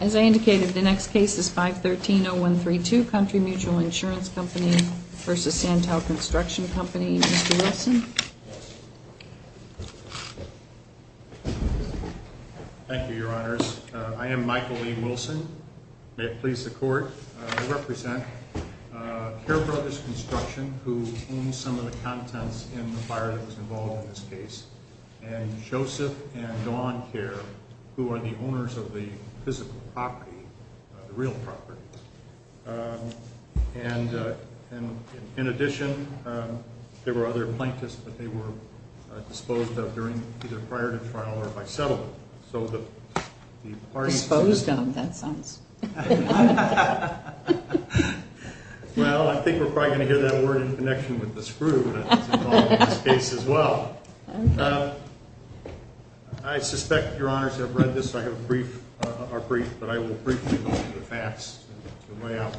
As I indicated, the next case is 513-0132, Country Mutual Insurance Company v. Santel Construction Company. Mr. Wilson? Thank you, Your Honors. I am Michael E. Wilson. May it please the Court. I represent Care Brothers Construction, who owns some of the contents in the fire that was involved in this case, and Joseph and Dawn Care, who are the owners of the physical property, the real property. And in addition, there were other plaintiffs that they were disposed of either prior to trial or by settlement. Disposed of? That sounds... Well, I think we're probably going to hear that word in connection with the screw that was involved in this case as well. I suspect Your Honors have read this, so I have a brief... or brief, but I will briefly go through the facts to lay out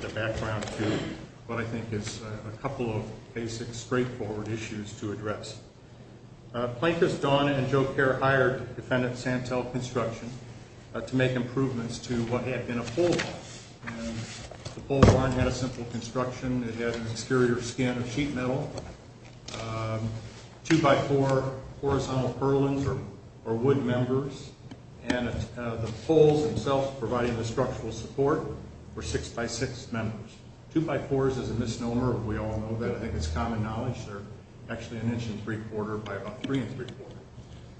the background to what I think is a couple of basic, straightforward issues to address. Plaintiffs Dawn and Joe Care hired defendant Santel Construction to make improvements to what had been a pole vault. And the pole vault had a simple construction. It had an exterior skin of sheet metal, two-by-four horizontal purlins or wood members, and the poles themselves providing the structural support were six-by-six members. Two-by-fours is a misnomer. We all know that. I think it's common knowledge they're actually an inch and three-quarter by about three-and-three-quarter.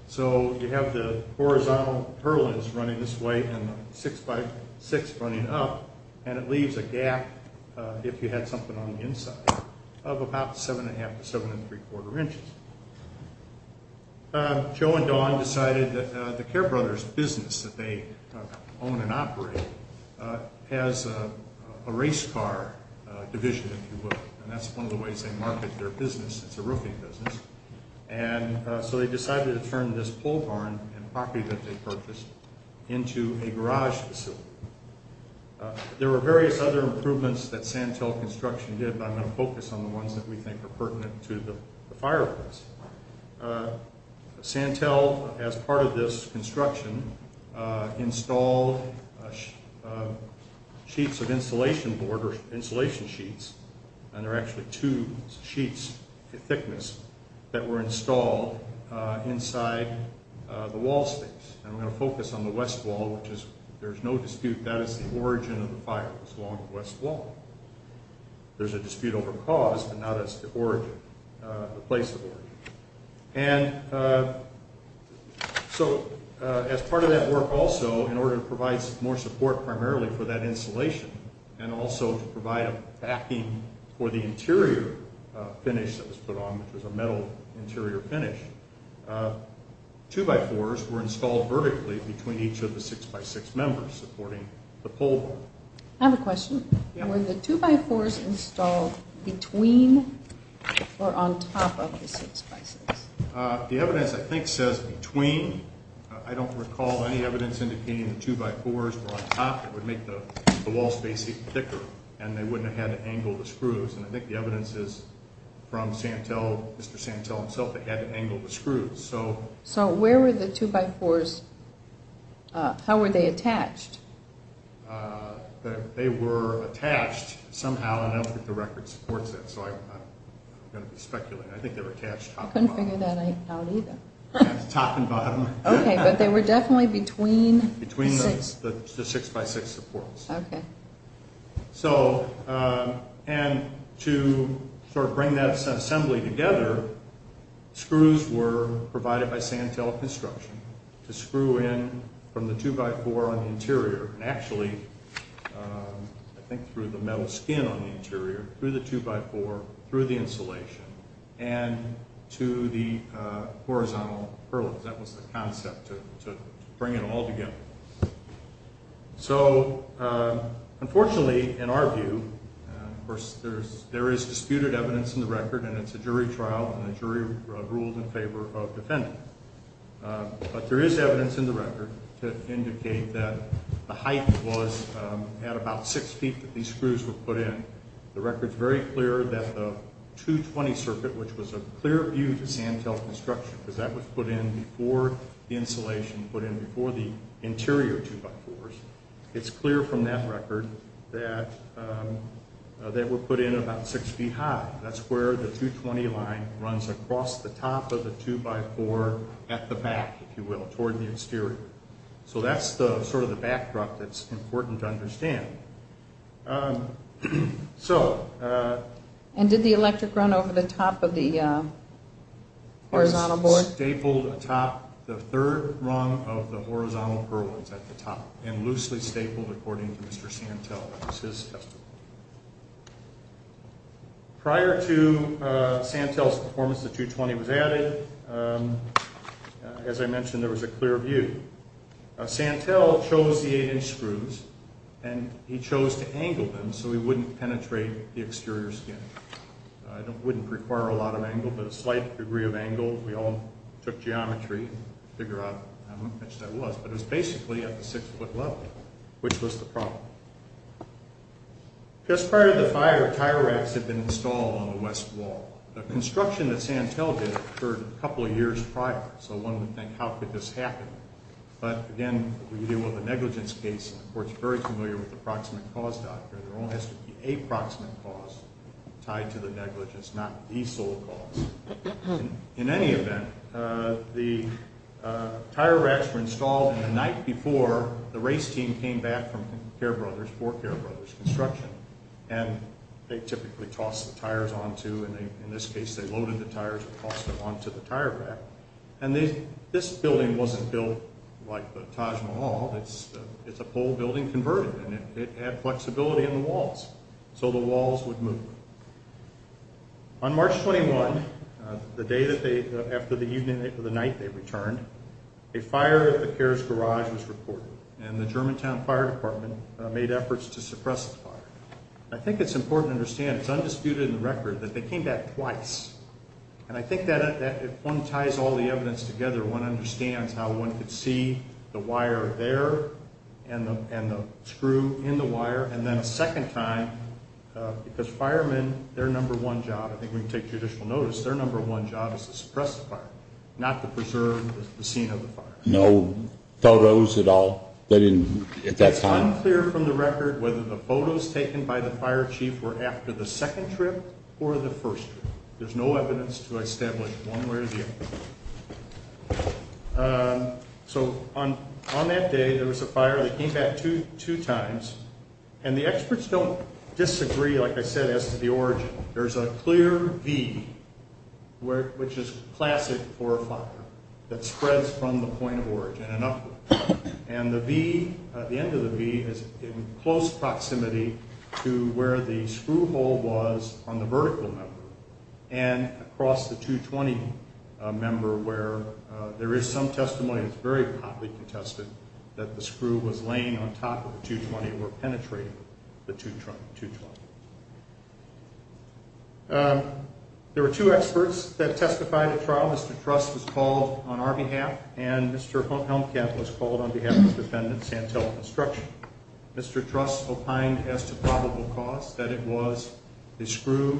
So you have the horizontal purlins running this way and six-by-six running up, and it leaves a gap, if you had something on the inside, of about seven-and-a-half to seven-and-three-quarter inches. Joe and Dawn decided that the Care Brothers business that they own and operate has a race car division, if you will, and that's one of the ways they market their business. It's a roofing business. And so they decided to turn this pole barn and property that they purchased into a garage facility. There were various other improvements that Santel Construction did, but I'm going to focus on the ones that we think are pertinent to the fireplace. Santel, as part of this construction, installed sheets of insulation board or insulation sheets, and there are actually two sheets, thickness, that were installed inside the wall space. And I'm going to focus on the west wall, which is, there's no dispute, that is the origin of the fireplace, along the west wall. There's a dispute over cause, but not as the origin, the place of origin. And so as part of that work also, in order to provide more support primarily for that insulation, and also to provide a backing for the interior finish that was put on, which was a metal interior finish, two-by-fours were installed vertically between each of the six-by-six members supporting the pole barn. I have a question. Were the two-by-fours installed between or on top of the six-by-six? The evidence, I think, says between. I don't recall any evidence indicating the two-by-fours were on top. It would make the wall space even thicker, and they wouldn't have had to angle the screws. And I think the evidence is from Mr. Santel himself, they had to angle the screws. So where were the two-by-fours, how were they attached? They were attached somehow, and I don't think the record supports that, so I'm going to be speculating. I think they were attached top and bottom. I couldn't figure that out either. Top and bottom. Okay, but they were definitely between the six-by-six supports. Okay. So, and to sort of bring that assembly together, screws were provided by Santel Construction to screw in from the two-by-four on the interior, and actually I think through the metal skin on the interior, through the two-by-four, through the insulation, and to the horizontal purlins. That was the concept, to bring it all together. So, unfortunately, in our view, of course, there is disputed evidence in the record, and it's a jury trial, and the jury ruled in favor of the defendant. But there is evidence in the record to indicate that the height was at about six feet that these screws were put in. The record's very clear that the 220 circuit, which was a clear view to Santel Construction, because that was put in before the insulation, put in before the interior two-by-fours, it's clear from that record that they were put in about six feet high. That's where the 220 line runs across the top of the two-by-four at the back, if you will, toward the exterior. So that's sort of the backdrop that's important to understand. And did the electric run over the top of the horizontal board? It was stapled atop the third rung of the horizontal purlins at the top, and loosely stapled according to Mr. Santel. That was his testimony. Prior to Santel's performance, the 220 was added. As I mentioned, there was a clear view. Santel chose the eight-inch screws, and he chose to angle them so he wouldn't penetrate the exterior skin. It wouldn't require a lot of angle, but a slight degree of angle. We all took geometry to figure out how much that was. But it was basically at the six-foot level, which was the problem. Just prior to the fire, tire racks had been installed on the west wall. The construction that Santel did occurred a couple of years prior, so one would think, how could this happen? But, again, when you deal with a negligence case, the court's very familiar with the proximate cause doctrine. There only has to be a proximate cause tied to the negligence, not the sole cause. In any event, the tire racks were installed, and the night before, the race team came back from Care Brothers, for Care Brothers Construction, and they typically tossed the tires onto, in this case, they loaded the tires and tossed them onto the tire rack. And this building wasn't built like the Taj Mahal. It's a pole building converted, and it had flexibility in the walls, so the walls would move. On March 21, the day after the night they returned, a fire at the Cares garage was reported, I think it's important to understand, it's undisputed in the record, that they came back twice. And I think that if one ties all the evidence together, one understands how one could see the wire there and the screw in the wire, and then a second time, because firemen, their number one job, I think we can take judicial notice, their number one job is to suppress the fire, not to preserve the scene of the fire. No photos at all at that time? It's unclear from the record whether the photos taken by the fire chief were after the second trip or the first trip. There's no evidence to establish one way or the other. So on that day, there was a fire that came back two times, and the experts don't disagree, like I said, as to the origin. There's a clear V, which is classic for a fire, that spreads from the point of origin and upward. And the V, at the end of the V, is in close proximity to where the screw hole was on the vertical member and across the 220 member, where there is some testimony that's very hotly contested that the screw was laying on top of the 220 or penetrating the 220. There were two experts that testified at trial. Mr. Truss was called on our behalf, and Mr. Helmkamp was called on behalf of Defendant Santella Construction. Mr. Truss opined as to probable cause that it was the screw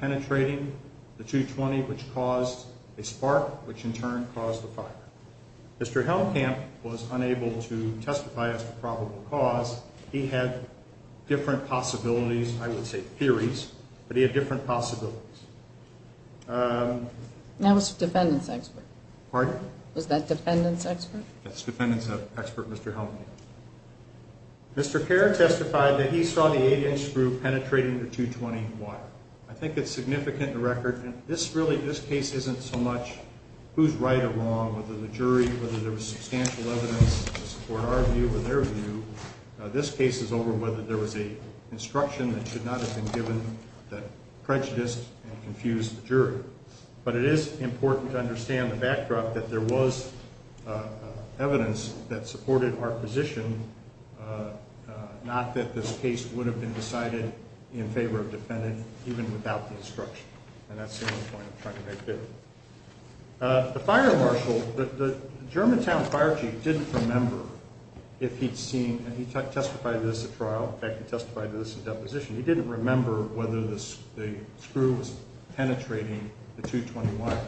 penetrating the 220, which caused a spark, which in turn caused the fire. Mr. Helmkamp was unable to testify as to probable cause. He had different possibilities, I would say theories, but he had different possibilities. That was Defendant's expert. Pardon? Was that Defendant's expert? That's Defendant's expert, Mr. Helmkamp. Mr. Kerr testified that he saw the 8-inch screw penetrating the 220 wire. I think it's significant in the record. This case isn't so much who's right or wrong, whether the jury, whether there was substantial evidence to support our view or their view. This case is over whether there was an instruction that should not have been given that prejudiced and confused the jury. But it is important to understand the backdrop that there was evidence that supported our position, not that this case would have been decided in favor of Defendant even without the instruction. And that's the only point I'm trying to make here. The fire marshal, the Germantown fire chief didn't remember if he'd seen, and he testified to this at trial. In fact, he testified to this in deposition. He didn't remember whether the screw was penetrating the 220 wire.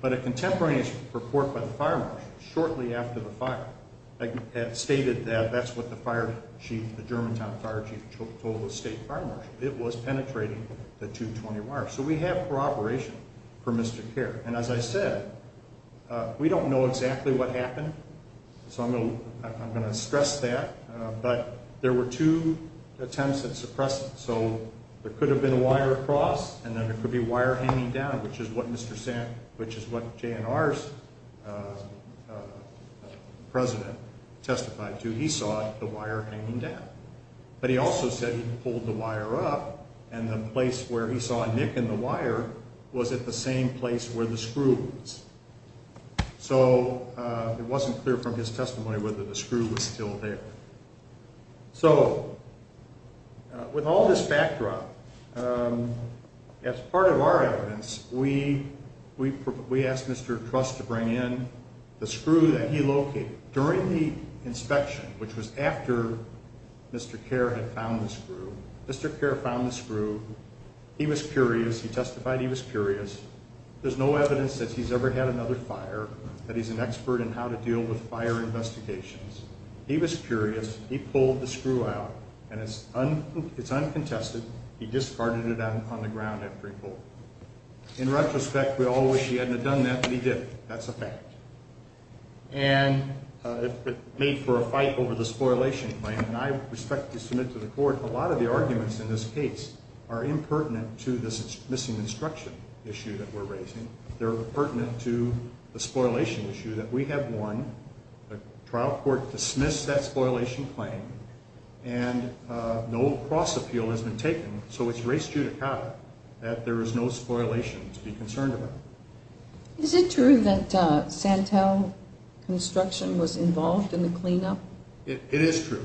But a contemporaneous report by the fire marshal shortly after the fire stated that that's what the fire chief, the Germantown fire chief, told the state fire marshal. It was penetrating the 220 wire. So we have corroboration for Mr. Kerr. And as I said, we don't know exactly what happened, so I'm going to stress that. But there were two attempts at suppressing it. So there could have been a wire across, and then there could be a wire hanging down, which is what JNR's president testified to. He saw the wire hanging down. But he also said he pulled the wire up, and the place where he saw a nick in the wire was at the same place where the screw was. So it wasn't clear from his testimony whether the screw was still there. So with all this backdrop, as part of our evidence, we asked Mr. Truss to bring in the screw that he located during the inspection, which was after Mr. Kerr had found the screw. Mr. Kerr found the screw. He was curious. He testified he was curious. There's no evidence that he's ever had another fire, that he's an expert in how to deal with fire investigations. He was curious. He pulled the screw out, and it's uncontested. He discarded it on the ground after he pulled it. In retrospect, we all wish he hadn't have done that, but he did. That's a fact. And it made for a fight over the spoilation claim, and I respectfully submit to the court a lot of the arguments in this case are impertinent to this missing instruction issue that we're raising. They're pertinent to the spoilation issue that we have won. The trial court dismissed that spoilation claim, and no cross-appeal has been taken. So it's res judicata that there is no spoilation to be concerned about. Is it true that Santel Construction was involved in the cleanup? It is true.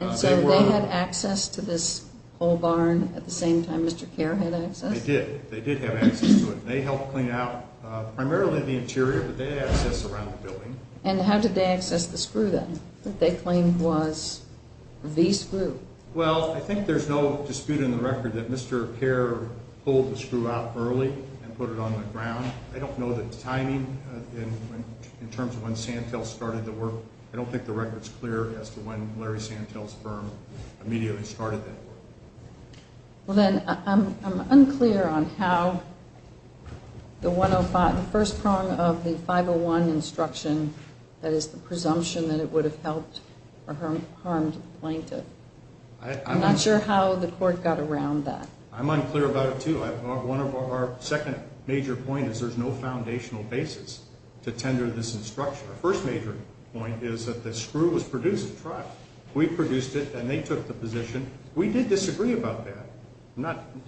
And so they had access to this whole barn at the same time Mr. Kerr had access? They did. They did have access to it, and they helped clean out primarily the interior, but they had access around the building. And how did they access the screw then that they claimed was the screw? Well, I think there's no dispute in the record that Mr. Kerr pulled the screw out early and put it on the ground. I don't know the timing in terms of when Santel started the work. I don't think the record's clear as to when Larry Santel's firm immediately started that work. Well, then I'm unclear on how the first prong of the 501 instruction, that is the presumption that it would have helped or harmed the plaintiff. I'm not sure how the court got around that. I'm unclear about it too. One of our second major points is there's no foundational basis to tender this instruction. Our first major point is that the screw was produced at trial. We produced it, and they took the position. We did disagree about that.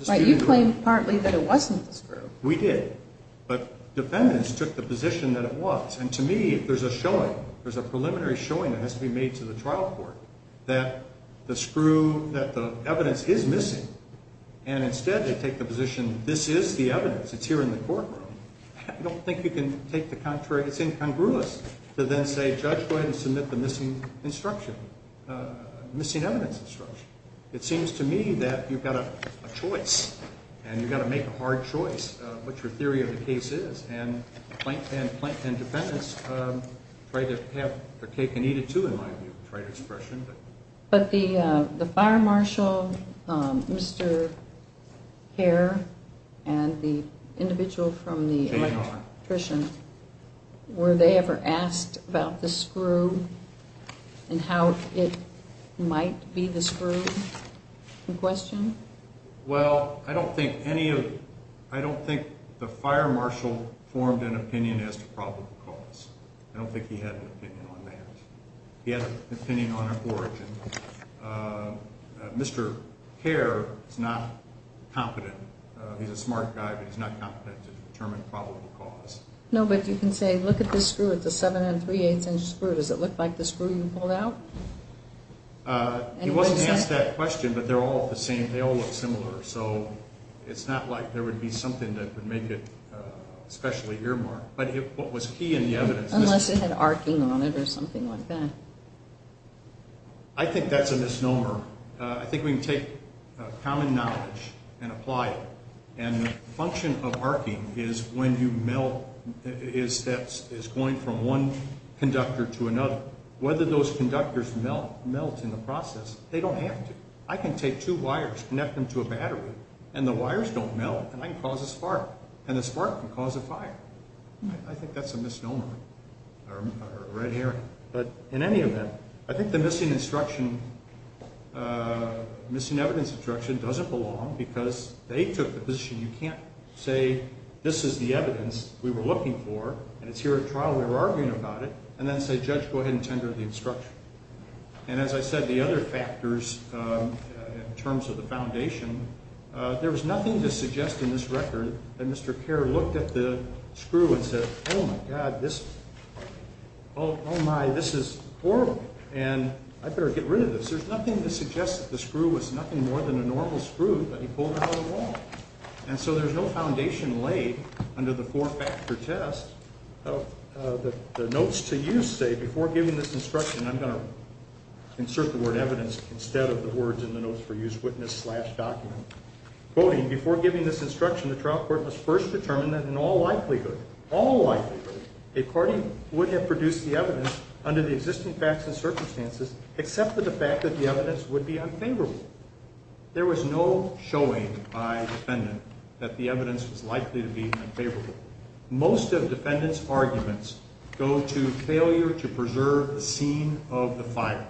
But you claimed partly that it wasn't the screw. We did. But defendants took the position that it was. And to me there's a showing, there's a preliminary showing that has to be made to the trial court that the screw, that the evidence is missing, and instead they take the position this is the evidence, it's here in the courtroom. I don't think you can take the contrary. It's incongruous to then say, Judge, go ahead and submit the missing instruction, missing evidence instruction. It seems to me that you've got a choice, and you've got to make a hard choice, what your theory of the case is. And plaintiff and defendants try to have their cake and eat it too, in my view, is the right expression. But the fire marshal, Mr. Kerr, and the individual from the electrician, were they ever asked about the screw and how it might be the screw in question? Well, I don't think the fire marshal formed an opinion as to probable cause. I don't think he had an opinion on that. He had an opinion on an origin. Mr. Kerr is not competent. He's a smart guy, but he's not competent to determine probable cause. No, but you can say, look at this screw. It's a seven and three-eighths inch screw. Does it look like the screw you pulled out? He wasn't asked that question, but they're all the same. They all look similar. So it's not like there would be something that would make it especially earmarked. Unless it had arcing on it or something like that. I think that's a misnomer. I think we can take common knowledge and apply it. And the function of arcing is when you melt, is going from one conductor to another. Whether those conductors melt in the process, they don't have to. I can take two wires, connect them to a battery, and the wires don't melt, and I can cause a spark, and the spark can cause a fire. I think that's a misnomer or a red herring. But in any event, I think the missing instruction, missing evidence instruction, doesn't belong because they took the position. You can't say this is the evidence we were looking for, and it's here at trial. We were arguing about it, and then say, Judge, go ahead and tender the instruction. And as I said, the other factors in terms of the foundation, there was nothing to suggest in this record that Mr. Kerr looked at the screw and said, Oh, my God, this is horrible, and I better get rid of this. There's nothing to suggest that the screw was nothing more than a normal screw that he pulled out of the wall. And so there's no foundation laid under the four-factor test. The notes to use say, before giving this instruction, I'm going to insert the word evidence instead of the words in the notes for use, witness slash document. Quoting, before giving this instruction, the trial court must first determine that in all likelihood, all likelihood, a party would have produced the evidence under the existing facts and circumstances except for the fact that the evidence would be unfavorable. There was no showing by defendant that the evidence was likely to be unfavorable. Most of defendants' arguments go to failure to preserve the scene of the firing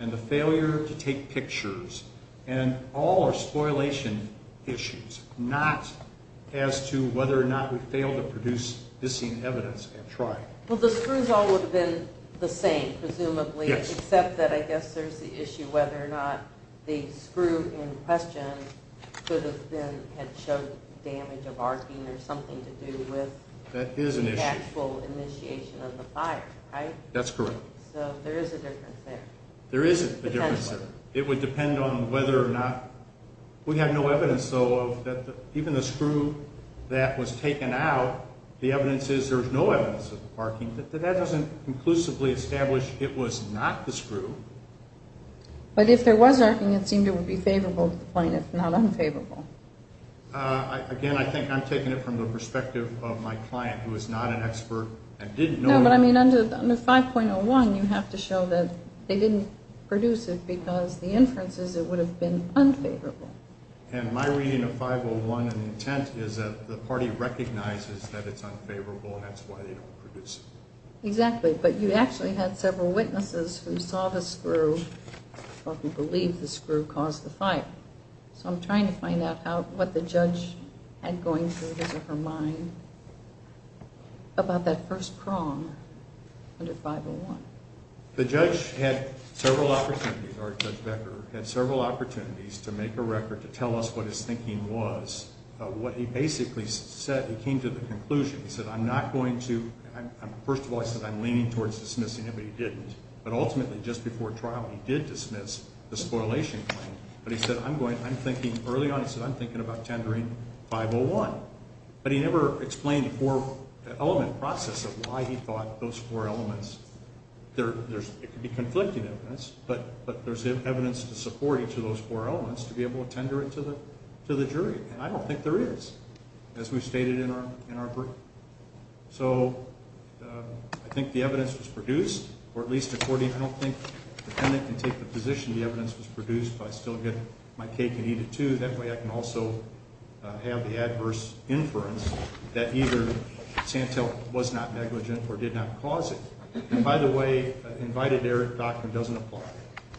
and the failure to take pictures, and all are spoliation issues, not as to whether or not we failed to produce missing evidence at trial. Well, the screws all would have been the same, presumably, except that I guess there's the issue whether or not the screw in question could have been, had showed damage of arcing or something to do with the actual initiation of the fire, right? That's correct. So there is a difference there. There is a difference there. It would depend on whether or not, we have no evidence, though, of that even the screw that was taken out, the evidence is there's no evidence of arcing, but that doesn't conclusively establish it was not the screw. But if there was arcing, it seemed it would be favorable to the plaintiff, not unfavorable. Again, I think I'm taking it from the perspective of my client, who is not an expert and didn't know. No, but I mean, under 5.01, you have to show that they didn't produce it because the inference is it would have been unfavorable. And my reading of 5.01 and intent is that the party recognizes that it's unfavorable, and that's why they don't produce it. Exactly, but you actually had several witnesses who saw the screw or who believe the screw caused the fire. So I'm trying to find out what the judge had going through his or her mind about that first prong under 5.01. The judge had several opportunities, our Judge Becker, had several opportunities to make a record to tell us what his thinking was. What he basically said, he came to the conclusion, he said, I'm not going to, first of all, I said I'm leaning towards dismissing it, but he didn't. But ultimately, just before trial, he did dismiss the spoilation claim. But he said, I'm going, I'm thinking early on, he said, I'm thinking about tendering 5.01. But he never explained the four-element process of why he thought those four elements, it could be conflicting evidence, but there's evidence to support each of those four elements to be able to tender it to the jury. And I don't think there is, as we've stated in our group. So I think the evidence was produced, or at least according, I don't think the defendant can take the position the evidence was produced, but I still get my cake and eat it too. That way I can also have the adverse inference that either Santel was not negligent or did not cause it. And by the way, invited error doctrine doesn't apply.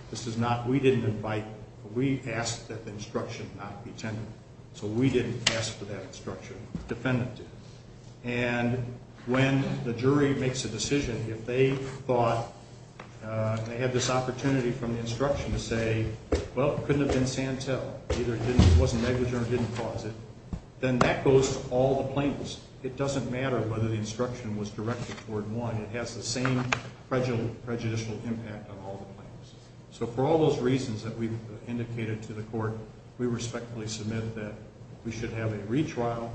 This is not, we didn't invite, we asked that the instruction not be tendered. So we didn't ask for that instruction. The defendant did. And when the jury makes a decision, if they thought, they had this opportunity from the instruction to say, well, it couldn't have been Santel, either it wasn't negligent or didn't cause it, then that goes to all the plaintiffs. It doesn't matter whether the instruction was directed toward one. It has the same prejudicial impact on all the plaintiffs. So for all those reasons that we've indicated to the court, we respectfully submit that we should have a retrial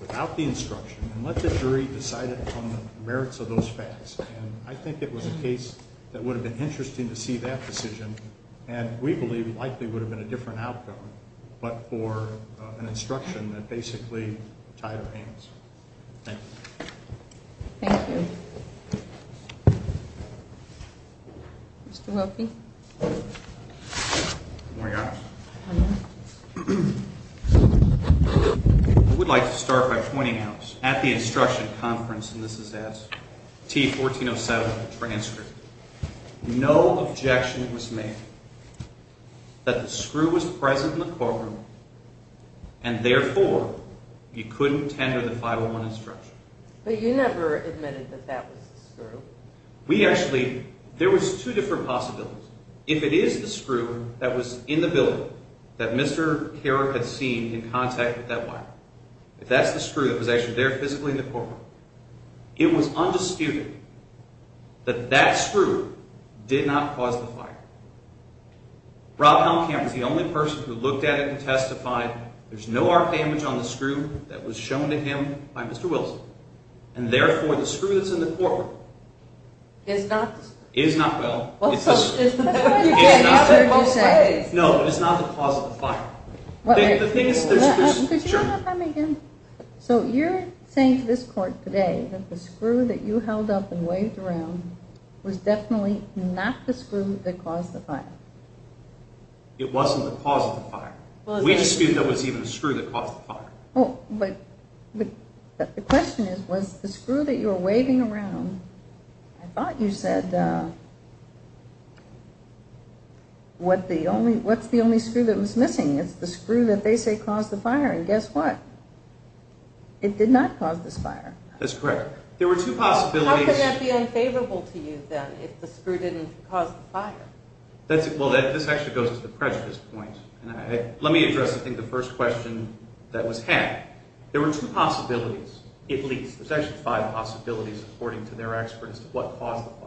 without the instruction and let the jury decide upon the merits of those facts. And I think it was a case that would have been interesting to see that decision, and we believe likely would have been a different outcome, but for an instruction that basically tied our hands. Thank you. Thank you. Mr. Wilkie. Good morning, guys. Good morning. I would like to start by pointing out at the instruction conference, and this is at T-1407 transcript, no objection was made that the screw was present in the courtroom and therefore you couldn't tender the 501 instruction. But you never admitted that that was the screw. We actually, there was two different possibilities. If it is the screw that was in the building that Mr. Carrick had seen in contact with that wire, if that's the screw that was actually there physically in the courtroom, it was undisputed that that screw did not cause the fire. Rob Helmkamp is the only person who looked at it and testified there's no arc damage on the screw that was shown to him by Mr. Wilson, and therefore the screw that's in the courtroom is not the cause of the fire. Could you repeat that one more time again? So you're saying to this court today that the screw that you held up and waved around was definitely not the screw that caused the fire. It wasn't the cause of the fire. We dispute that it was even the screw that caused the fire. But the question is, was the screw that you were waving around, I thought you said, what's the only screw that was missing? It's the screw that they say caused the fire, and guess what? It did not cause this fire. That's correct. There were two possibilities. How could that be unfavorable to you, then, if the screw didn't cause the fire? Well, this actually goes to the prejudice point. Let me address, I think, the first question that was had. There were two possibilities, at least. There's actually five possibilities, according to their expert, as to what caused the fire.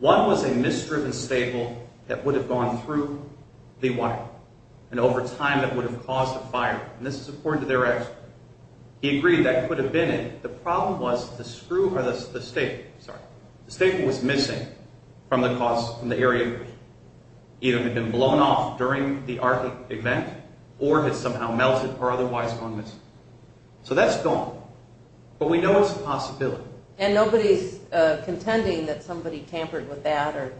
One was a misdriven staple that would have gone through the wire, and over time that would have caused the fire. And this is according to their expert. He agreed that could have been it. The problem was the staple was missing from the area. Either it had been blown off during the event or had somehow melted or otherwise gone missing. So that's gone. But we know it's a possibility. And nobody's contending that somebody tampered with that?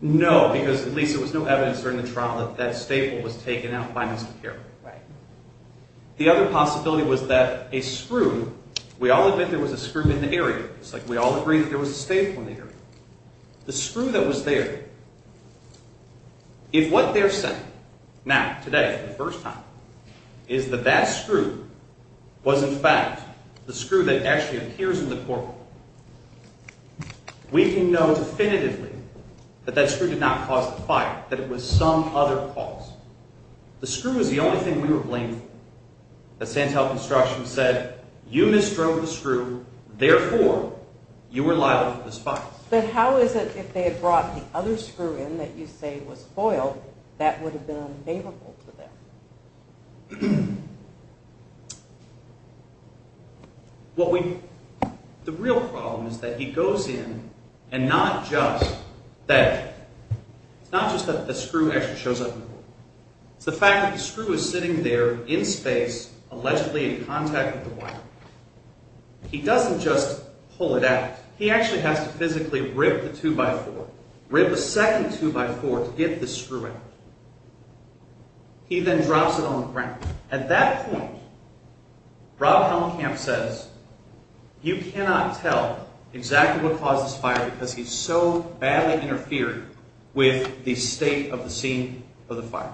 No, because at least there was no evidence during the trial that that staple was taken out by Mr. Carroll. The other possibility was that a screw, we all admit there was a screw in the area. It's like we all agree that there was a staple in the area. The screw that was there, if what they're saying now, today, for the first time, is that that screw was, in fact, the screw that actually appears in the courtroom, we can know definitively that that screw did not cause the fire, that it was some other cause. The screw was the only thing we were blamed for. The Santel Construction said, you misdrove the screw, therefore, you were liable for the spot. But how is it if they had brought the other screw in that you say was foiled, that would have been unfavorable to them? The real problem is that he goes in and not just that the screw actually shows up in the courtroom. It's the fact that the screw is sitting there in space, allegedly in contact with the wire. He doesn't just pull it out. He actually has to physically rip the 2x4, rip a second 2x4 to get the screw out. He then drops it on the ground. At that point, Rob Hellenkamp says, you cannot tell exactly what caused this fire because he so badly interfered with the state of the scene of the fire.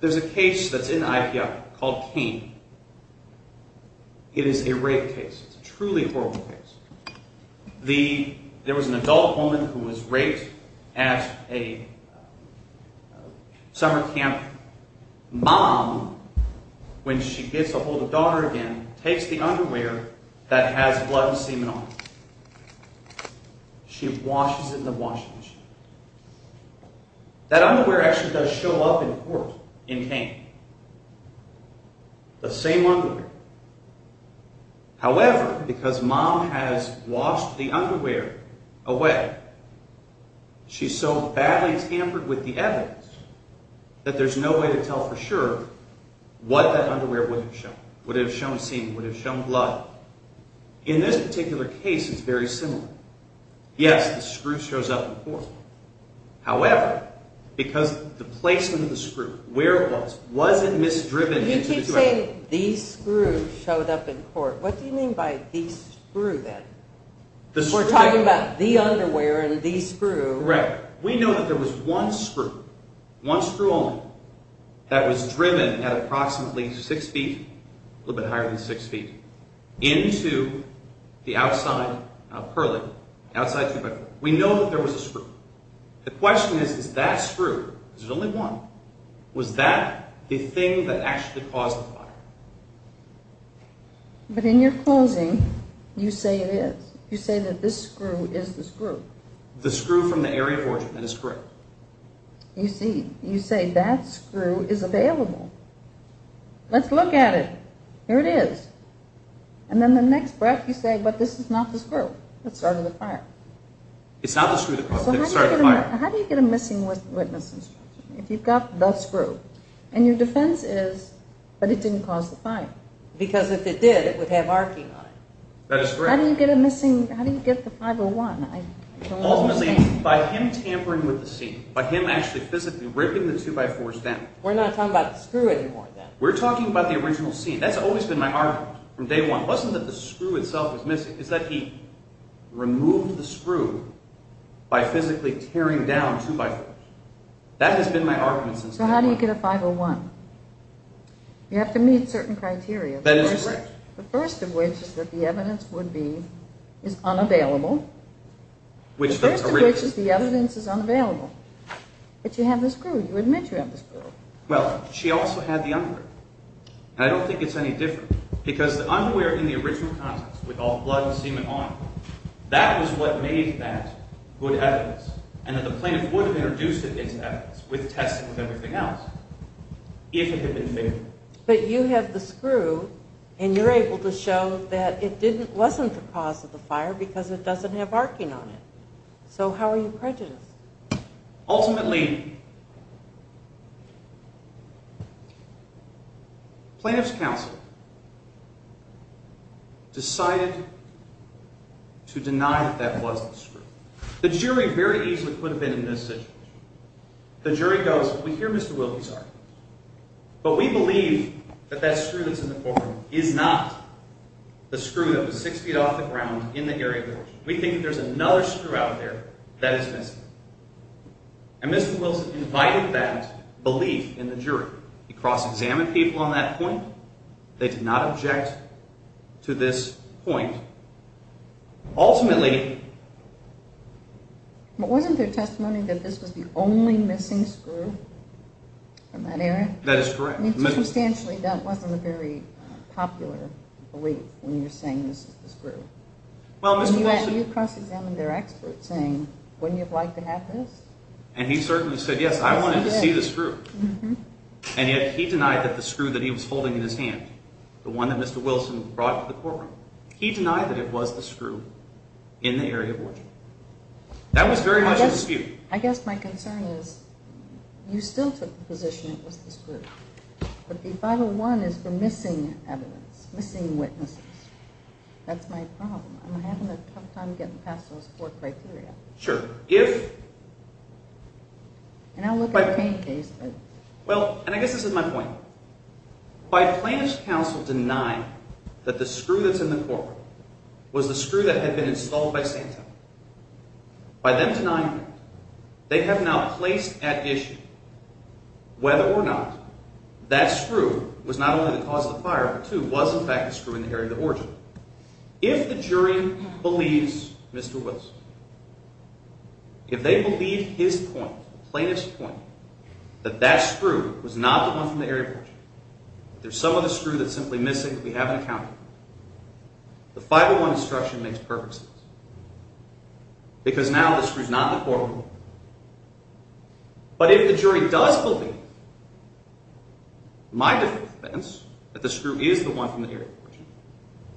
There's a case that's in IPR called Kane. It is a rape case. It's a truly horrible case. There was an adult woman who was raped at a summer camp. Mom, when she gets to hold a daughter again, takes the underwear that has blood and semen on it. She washes it in the washing machine. That underwear actually does show up in court in Kane. The same underwear. However, because Mom has washed the underwear away, she's so badly tampered with the evidence that there's no way to tell for sure what that underwear would have shown. Would it have shown semen? Would it have shown blood? In this particular case, it's very similar. Yes, the screw shows up in court. However, because the placement of the screw, where it was, wasn't misdriven into the situation. By the way, the screw showed up in court. What do you mean by the screw, then? We're talking about the underwear and the screw. Correct. We know that there was one screw, one screw only, that was driven at approximately six feet, a little bit higher than six feet, into the outside of her leg. We know that there was a screw. The question is, is that screw, because there's only one, was that the thing that actually caused the fire? But in your closing, you say it is. You say that this screw is the screw. The screw from the area of origin, that is correct. You see, you say that screw is available. Let's look at it. Here it is. And then the next breath, you say, but this is not the screw that started the fire. It's not the screw that started the fire. How do you get a missing witness instruction if you've got the screw? And your defense is, but it didn't cause the fire. Because if it did, it would have arcing on it. That is correct. How do you get the 501? Ultimately, by him tampering with the scene, by him actually physically ripping the two-by-fours down. We're not talking about the screw anymore, then. We're talking about the original scene. That's always been my argument from day one. It wasn't that the screw itself was missing. It's that he removed the screw by physically tearing down two-by-fours. That has been my argument since day one. So how do you get a 501? You have to meet certain criteria. That is correct. The first of which is that the evidence would be, is unavailable. The first of which is the evidence is unavailable. But you have the screw. You admit you have the screw. And I don't think it's any different. Because the underwear in the original context, with all the blood and semen on it, that was what made that good evidence, and that the plaintiff would have introduced it into evidence with testing and everything else, if it had been figured. But you have the screw, and you're able to show that it wasn't the cause of the fire because it doesn't have arcing on it. So how are you prejudiced? Ultimately, plaintiff's counsel decided to deny that that was the screw. The jury very easily could have been in this situation. The jury goes, we hear Mr. Wilkie's argument. But we believe that that screw that's in the courtroom is not the screw that was six feet off the ground in the area where it was. We think that there's another screw out there that is missing. And Mr. Wilson invited that belief in the jury. He cross-examined people on that point. They did not object to this point. Ultimately, That is correct. I mean, circumstantially, that wasn't a very popular belief when you're saying this is the screw. When you cross-examined their experts saying, wouldn't you have liked to have this? And he certainly said, yes, I wanted to see the screw. And yet he denied that the screw that he was holding in his hand, the one that Mr. Wilson brought to the courtroom, he denied that it was the screw in the area of origin. That was very much a dispute. I guess my concern is you still took the position it was the screw. But the 501 is for missing evidence, missing witnesses. That's my problem. I'm having a tough time getting past those four criteria. Sure. If... And I'll look at the case. Well, and I guess this is my point. By plaintiff's counsel denying that the screw that's in the courtroom was the screw that had been installed by Santa, by them denying that, they have now placed at issue whether or not that screw was not only the cause of the fire, but too was in fact the screw in the area of origin. If the jury believes Mr. Wilson, if they believe his point, the plaintiff's point, that that screw was not the one from the area of origin, there's some other screw that's simply missing that we haven't accounted for, the 501 instruction makes perfect sense. Because now the screw's not in the courtroom. But if the jury does believe, my defense, that the screw is the one from the area of origin,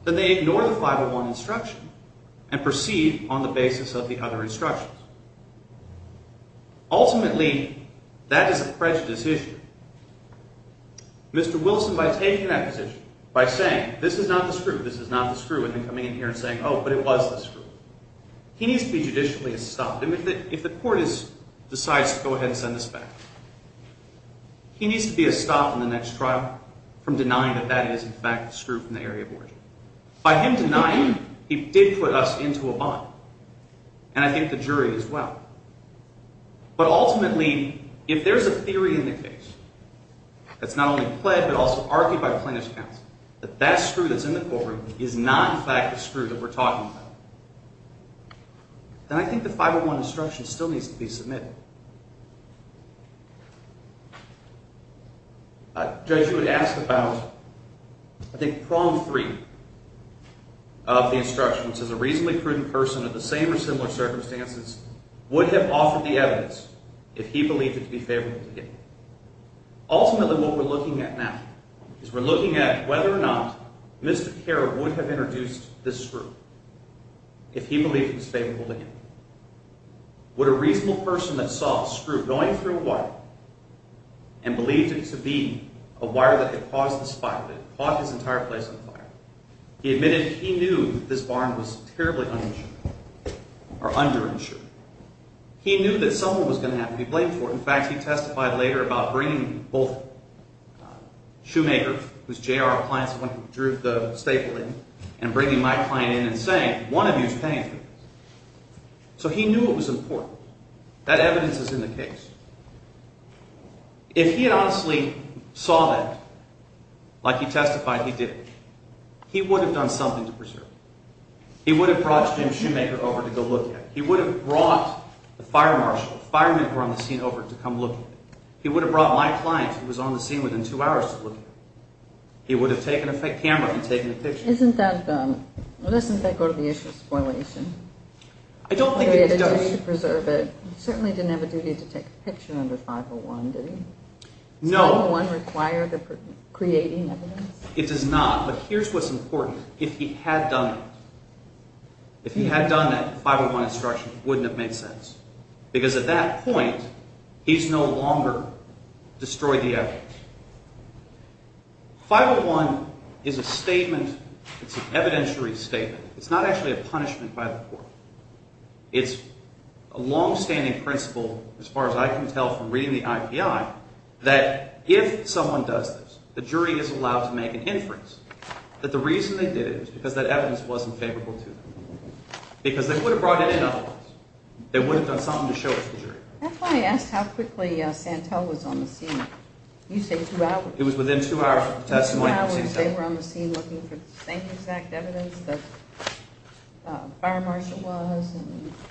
then they ignore the 501 instruction and proceed on the basis of the other instructions. Ultimately, that is a prejudice issue. Mr. Wilson, by taking that position, by saying, this is not the screw, this is not the screw, and then coming in here and saying, oh, but it was the screw. He needs to be judicially stopped. If the court decides to go ahead and send this back, he needs to be stopped in the next trial from denying that that is in fact the screw from the area of origin. By him denying, he did put us into a bind. And I think the jury as well. But ultimately, if there's a theory in the case that's not only pled, but also argued by plaintiff's counsel, that that screw that's in the courtroom is not in fact the screw that we're talking about, then I think the 501 instruction still needs to be submitted. A judge would ask about, I think, prong three of the instruction, which is a reasonably prudent person in the same or similar circumstances would have offered the evidence if he believed it to be favorable to him. Ultimately, what we're looking at now is we're looking at whether or not Mr. Kerr would have introduced this screw if he believed it was favorable to him. Would a reasonable person that saw a screw going through a wire and believed it to be a wire that had caused the fire, that had caught his entire place on fire, he admitted he knew this barn was terribly uninsured or underinsured. He knew that someone was going to have to be blamed for it. In fact, he testified later about bringing both Shoemaker, who's J.R.'s client, the one who drew the staple in, and bringing my client in and saying, one of you is paying for this. So he knew it was important. That evidence is in the case. If he had honestly saw that, like he testified he did, he would have done something to preserve it. He would have brought Jim Shoemaker over to go look at it. He would have brought the fire marshal, the fireman who was on the scene over to come look at it. He would have brought my client who was on the scene within two hours to look at it. He would have taken a camera and taken a picture. Isn't that... Well, doesn't that go to the issue of spoilation? I don't think it does. Just to preserve it. He certainly didn't have a duty to take a picture under 501, did he? No. Does 501 require creating evidence? It does not. But here's what's important. If he had done that, if he had done that, the 501 instruction wouldn't have made sense. Because at that point, he's no longer destroyed the evidence. 501 is a statement. It's an evidentiary statement. It's not actually a punishment by the court. It's a long-standing principle, as far as I can tell from reading the IPI, that if someone does this, the jury is allowed to make an inference that the reason they did it was because that evidence wasn't favorable to them. Because they would have brought it in otherwise. They would have done something to show it to the jury. That's why I asked how quickly Santel was on the scene. You say 2 hours. It was within 2 hours of the testimony. They were on the scene looking for the same exact evidence that Fire Marshal was.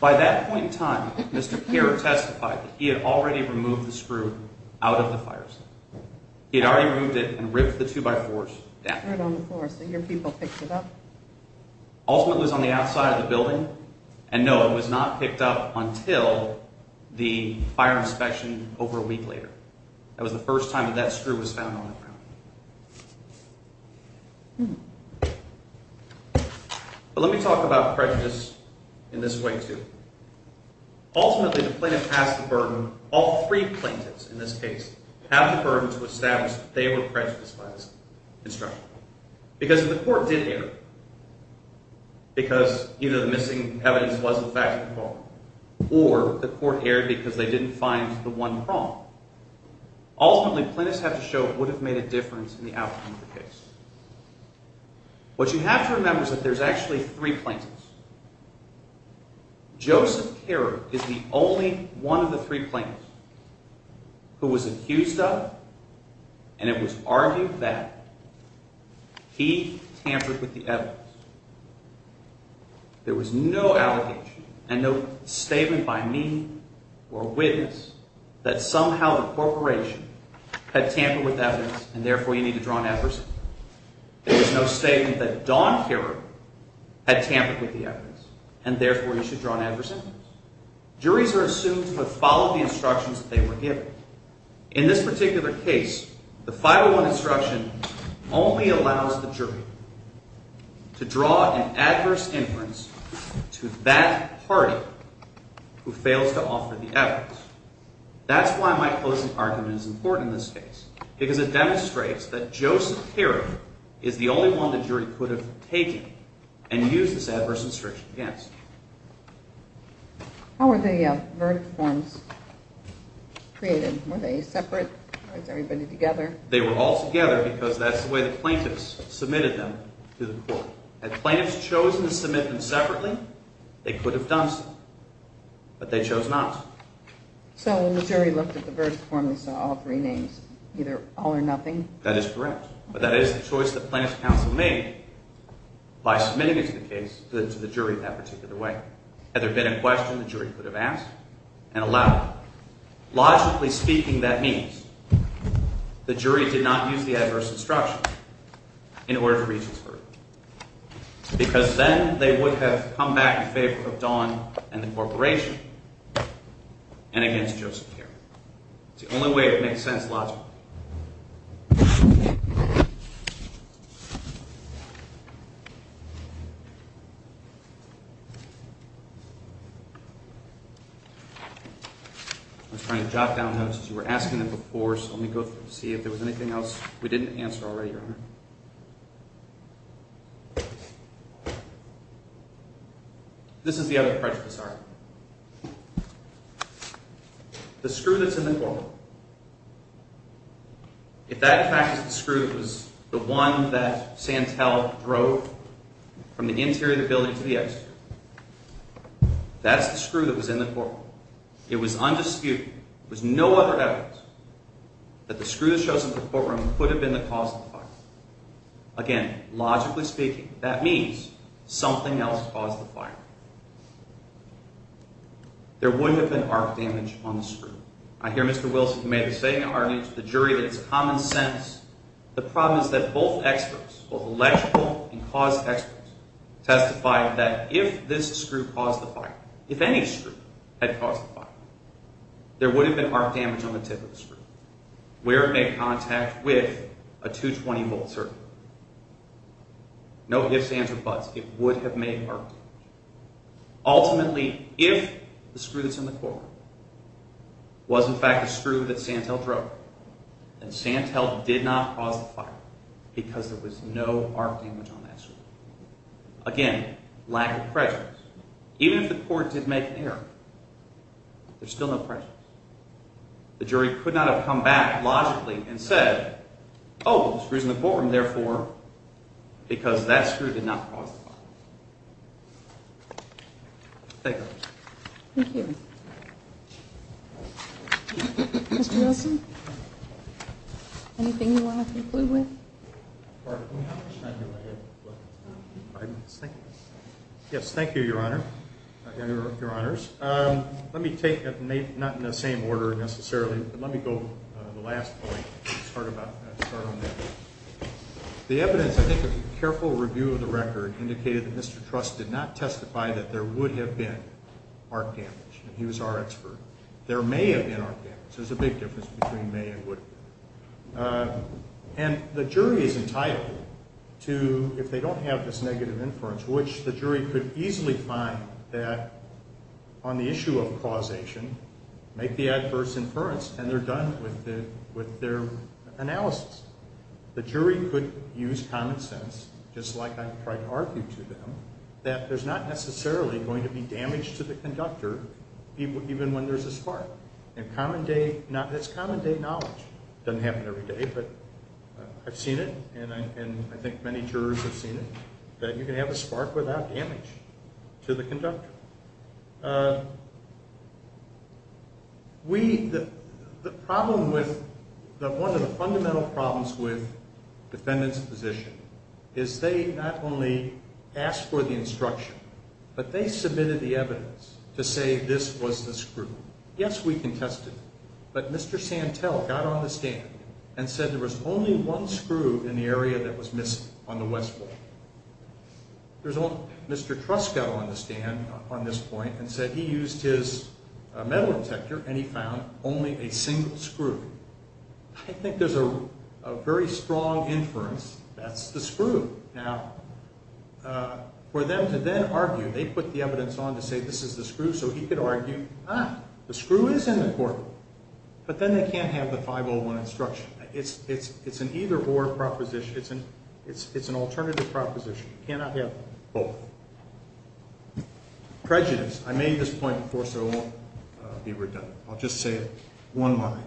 By that point in time, Mr. Kerr testified that he had already removed the screw out of the fire station. He had already removed it and ripped the 2x4s down. So your people picked it up? Ultimately, it was on the outside of the building. And no, it was not picked up until the fire inspection over a week later. That was the first time that that screw was found on the ground. But let me talk about prejudice in this way too. Ultimately, the plaintiff has the burden, all 3 plaintiffs in this case, have the burden to establish that they were prejudiced by this instruction. Because if the court did err, because either the missing evidence was the fact of the crime, or the court erred because they didn't find the one problem, ultimately, plaintiffs have to show what would have made a difference in the outcome of the case. What you have to remember is that there's actually 3 plaintiffs. Joseph Kerr is the only one of the 3 plaintiffs who was accused of, and it was argued that, he tampered with the evidence. There was no allegation and no statement by me or a witness that somehow the corporation had tampered with evidence and therefore you need to draw an adverse sentence. There was no statement that Don Kerr had tampered with the evidence and therefore you should draw an adverse sentence. Juries are assumed to have followed the instructions that they were given. In this particular case, the 501 instruction only allows the jury to draw an adverse inference to that party who fails to offer the evidence. That's why my closing argument is important in this case. Because it demonstrates that Joseph Kerr is the only one the jury could have taken and used this adverse instruction against. How were the verdict forms created? Were they separate? Or was everybody together? They were all together because that's the way the plaintiffs submitted them to the court. Had plaintiffs chosen to submit them separately, they could have done so. But they chose not to. So when the jury looked at the verdict form, they saw all 3 names, either all or nothing? That is correct. But that is the choice that plaintiff's counsel made by submitting it to the jury in that particular way. Had there been a question, the jury could have asked and allowed it. Logically speaking, that means the jury did not use the adverse instruction in order to reach this verdict. Because then they would have come back in favor of Don and the corporation and against Joseph Kerr. It's the only way it makes sense logically. I was trying to jot down notes as you were asking them before, so let me go through and see if there was anything else we didn't answer already, Your Honor. This is the other prejudice argument. The screw that's in the courtroom. If that in fact is the screw that was the one that Santel drove from the interior of the building to the exit, that's the screw that was in the courtroom. It was undisputed, there was no other evidence that the screw that shows up in the courtroom could have been the cause of the fire. Again, logically speaking, that means something else caused the fire. There wouldn't have been arc damage on the screw. I hear Mr. Wilson who made the same argument to the jury that it's common sense. The problem is that both experts, both electrical and cause experts, testified that if this screw caused the fire, if any screw had caused the fire, there would have been arc damage on the tip of the screw, where it made contact with a 220-volt circuit. No ifs, ands, or buts. It would have made arc damage. Ultimately, if the screw that's in the courtroom was in fact the screw that Santel drove, then Santel did not cause the fire because there was no arc damage on that screw. Again, lack of prejudice. Even if the court did make an error, there's still no prejudice. The jury could not have come back logically and said, oh, the screw's in the courtroom, therefore, because that screw did not cause the fire. Thank you. Thank you. Mr. Wilson? Anything you want to conclude with? Pardon me, how much time do I have left? Five minutes. Thank you. Yes, thank you, Your Honor. Your Honors. Let me take it, not in the same order necessarily, but let me go to the last point and start on that. The evidence, I think, of careful review of the record indicated that Mr. Truss did not testify that there would have been arc damage. He was our expert. There may have been arc damage. There's a big difference between may and would have been. And the jury is entitled to, if they don't have this negative inference, which the jury could easily find that, on the issue of causation, make the adverse inference, and they're done with their analysis. The jury could use common sense, just like I tried to argue to them, that there's not necessarily going to be damage to the conductor even when there's a spark. And that's common day knowledge. It doesn't happen every day, but I've seen it, and I think many jurors have seen it, that you can have a spark without damage to the conductor. We, the problem with, one of the fundamental problems with defendants' position is they not only asked for the instruction, but they submitted the evidence to say this was the screw. Yes, we contested it, but Mr. Santel got on the stand and said there was only one screw in the area that was missing on the west wall. Mr. Truss got on the stand on this point and said he used his metal detector and he found only a single screw. I think there's a very strong inference that's the screw. Now, for them to then argue, they put the evidence on to say this is the screw, so he could argue, ah, the screw is in the courtroom, but then they can't have the 501 instruction. It's an either-or proposition. It's an alternative proposition. You cannot have both. Prejudice. I made this point before, so I won't be redundant. I'll just say it one line.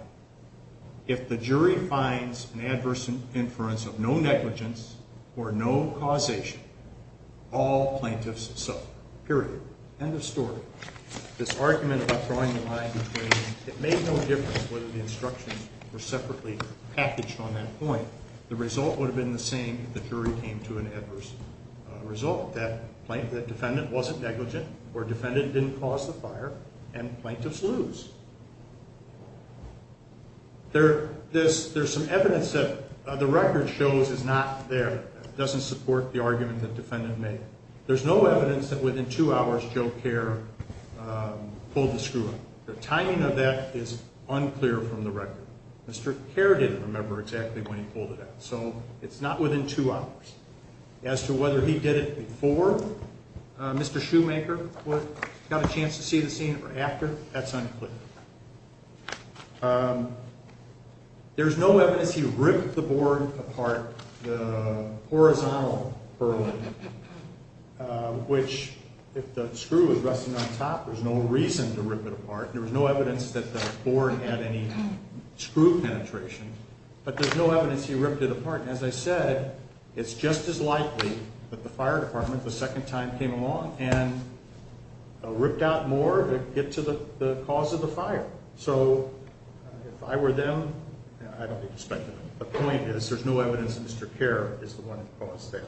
If the jury finds an adverse inference of no negligence or no causation, all plaintiffs suffer, period. End of story. This argument about drawing the line between it made no difference whether the instructions were separately packaged on that point. The result would have been the same if the jury came to an adverse result, that defendant wasn't negligent or defendant didn't cause the fire, and plaintiffs lose. There's some evidence that the record shows is not there, doesn't support the argument the defendant made. There's no evidence that within two hours Joe Kerr pulled the screw out. The timing of that is unclear from the record. Mr. Kerr didn't remember exactly when he pulled it out, so it's not within two hours. As to whether he did it before Mr. Shoemaker got a chance to see the scene or after, that's unclear. There's no evidence he ripped the board apart, the horizontal burlap, which if the screw is resting on top, there's no reason to rip it apart. There's no evidence that the board had any screw penetration, but there's no evidence he ripped it apart. As I said, it's just as likely that the fire department the second time came along and ripped out more to get to the cause of the fire. So if I were them, I don't think they'd suspect anything. The point is there's no evidence that Mr. Kerr is the one who caused that.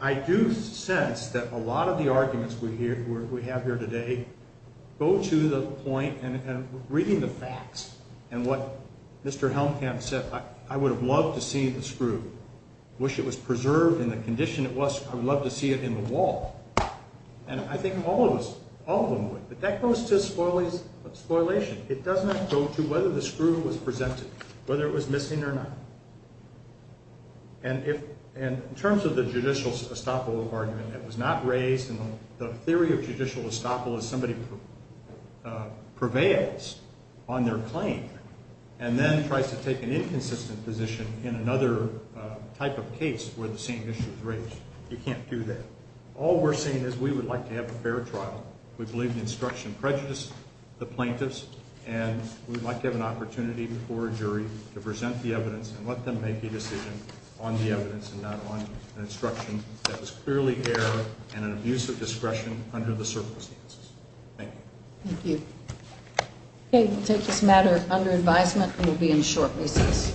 I do sense that a lot of the arguments we have here today go to the point, and reading the facts and what Mr. Helmkamp said, I would have loved to see the screw. I wish it was preserved in the condition it was. I would love to see it in the wall. And I think all of us, all of them would. But that goes to a spoilation. It doesn't go to whether the screw was presented, whether it was missing or not. And in terms of the judicial estoppel argument, it was not raised in the theory of judicial estoppel as somebody prevails on their claim and then tries to take an inconsistent position in another type of case where the same issue is raised. You can't do that. All we're saying is we would like to have a fair trial. We believe in instruction prejudice, the plaintiffs, and we'd like to have an opportunity before a jury to present the evidence and let them make a decision on the evidence and not on an instruction that was clearly error and an abuse of discretion under the circumstances. Thank you. Thank you. Okay, we'll take this matter under advisement and we'll be in short recess.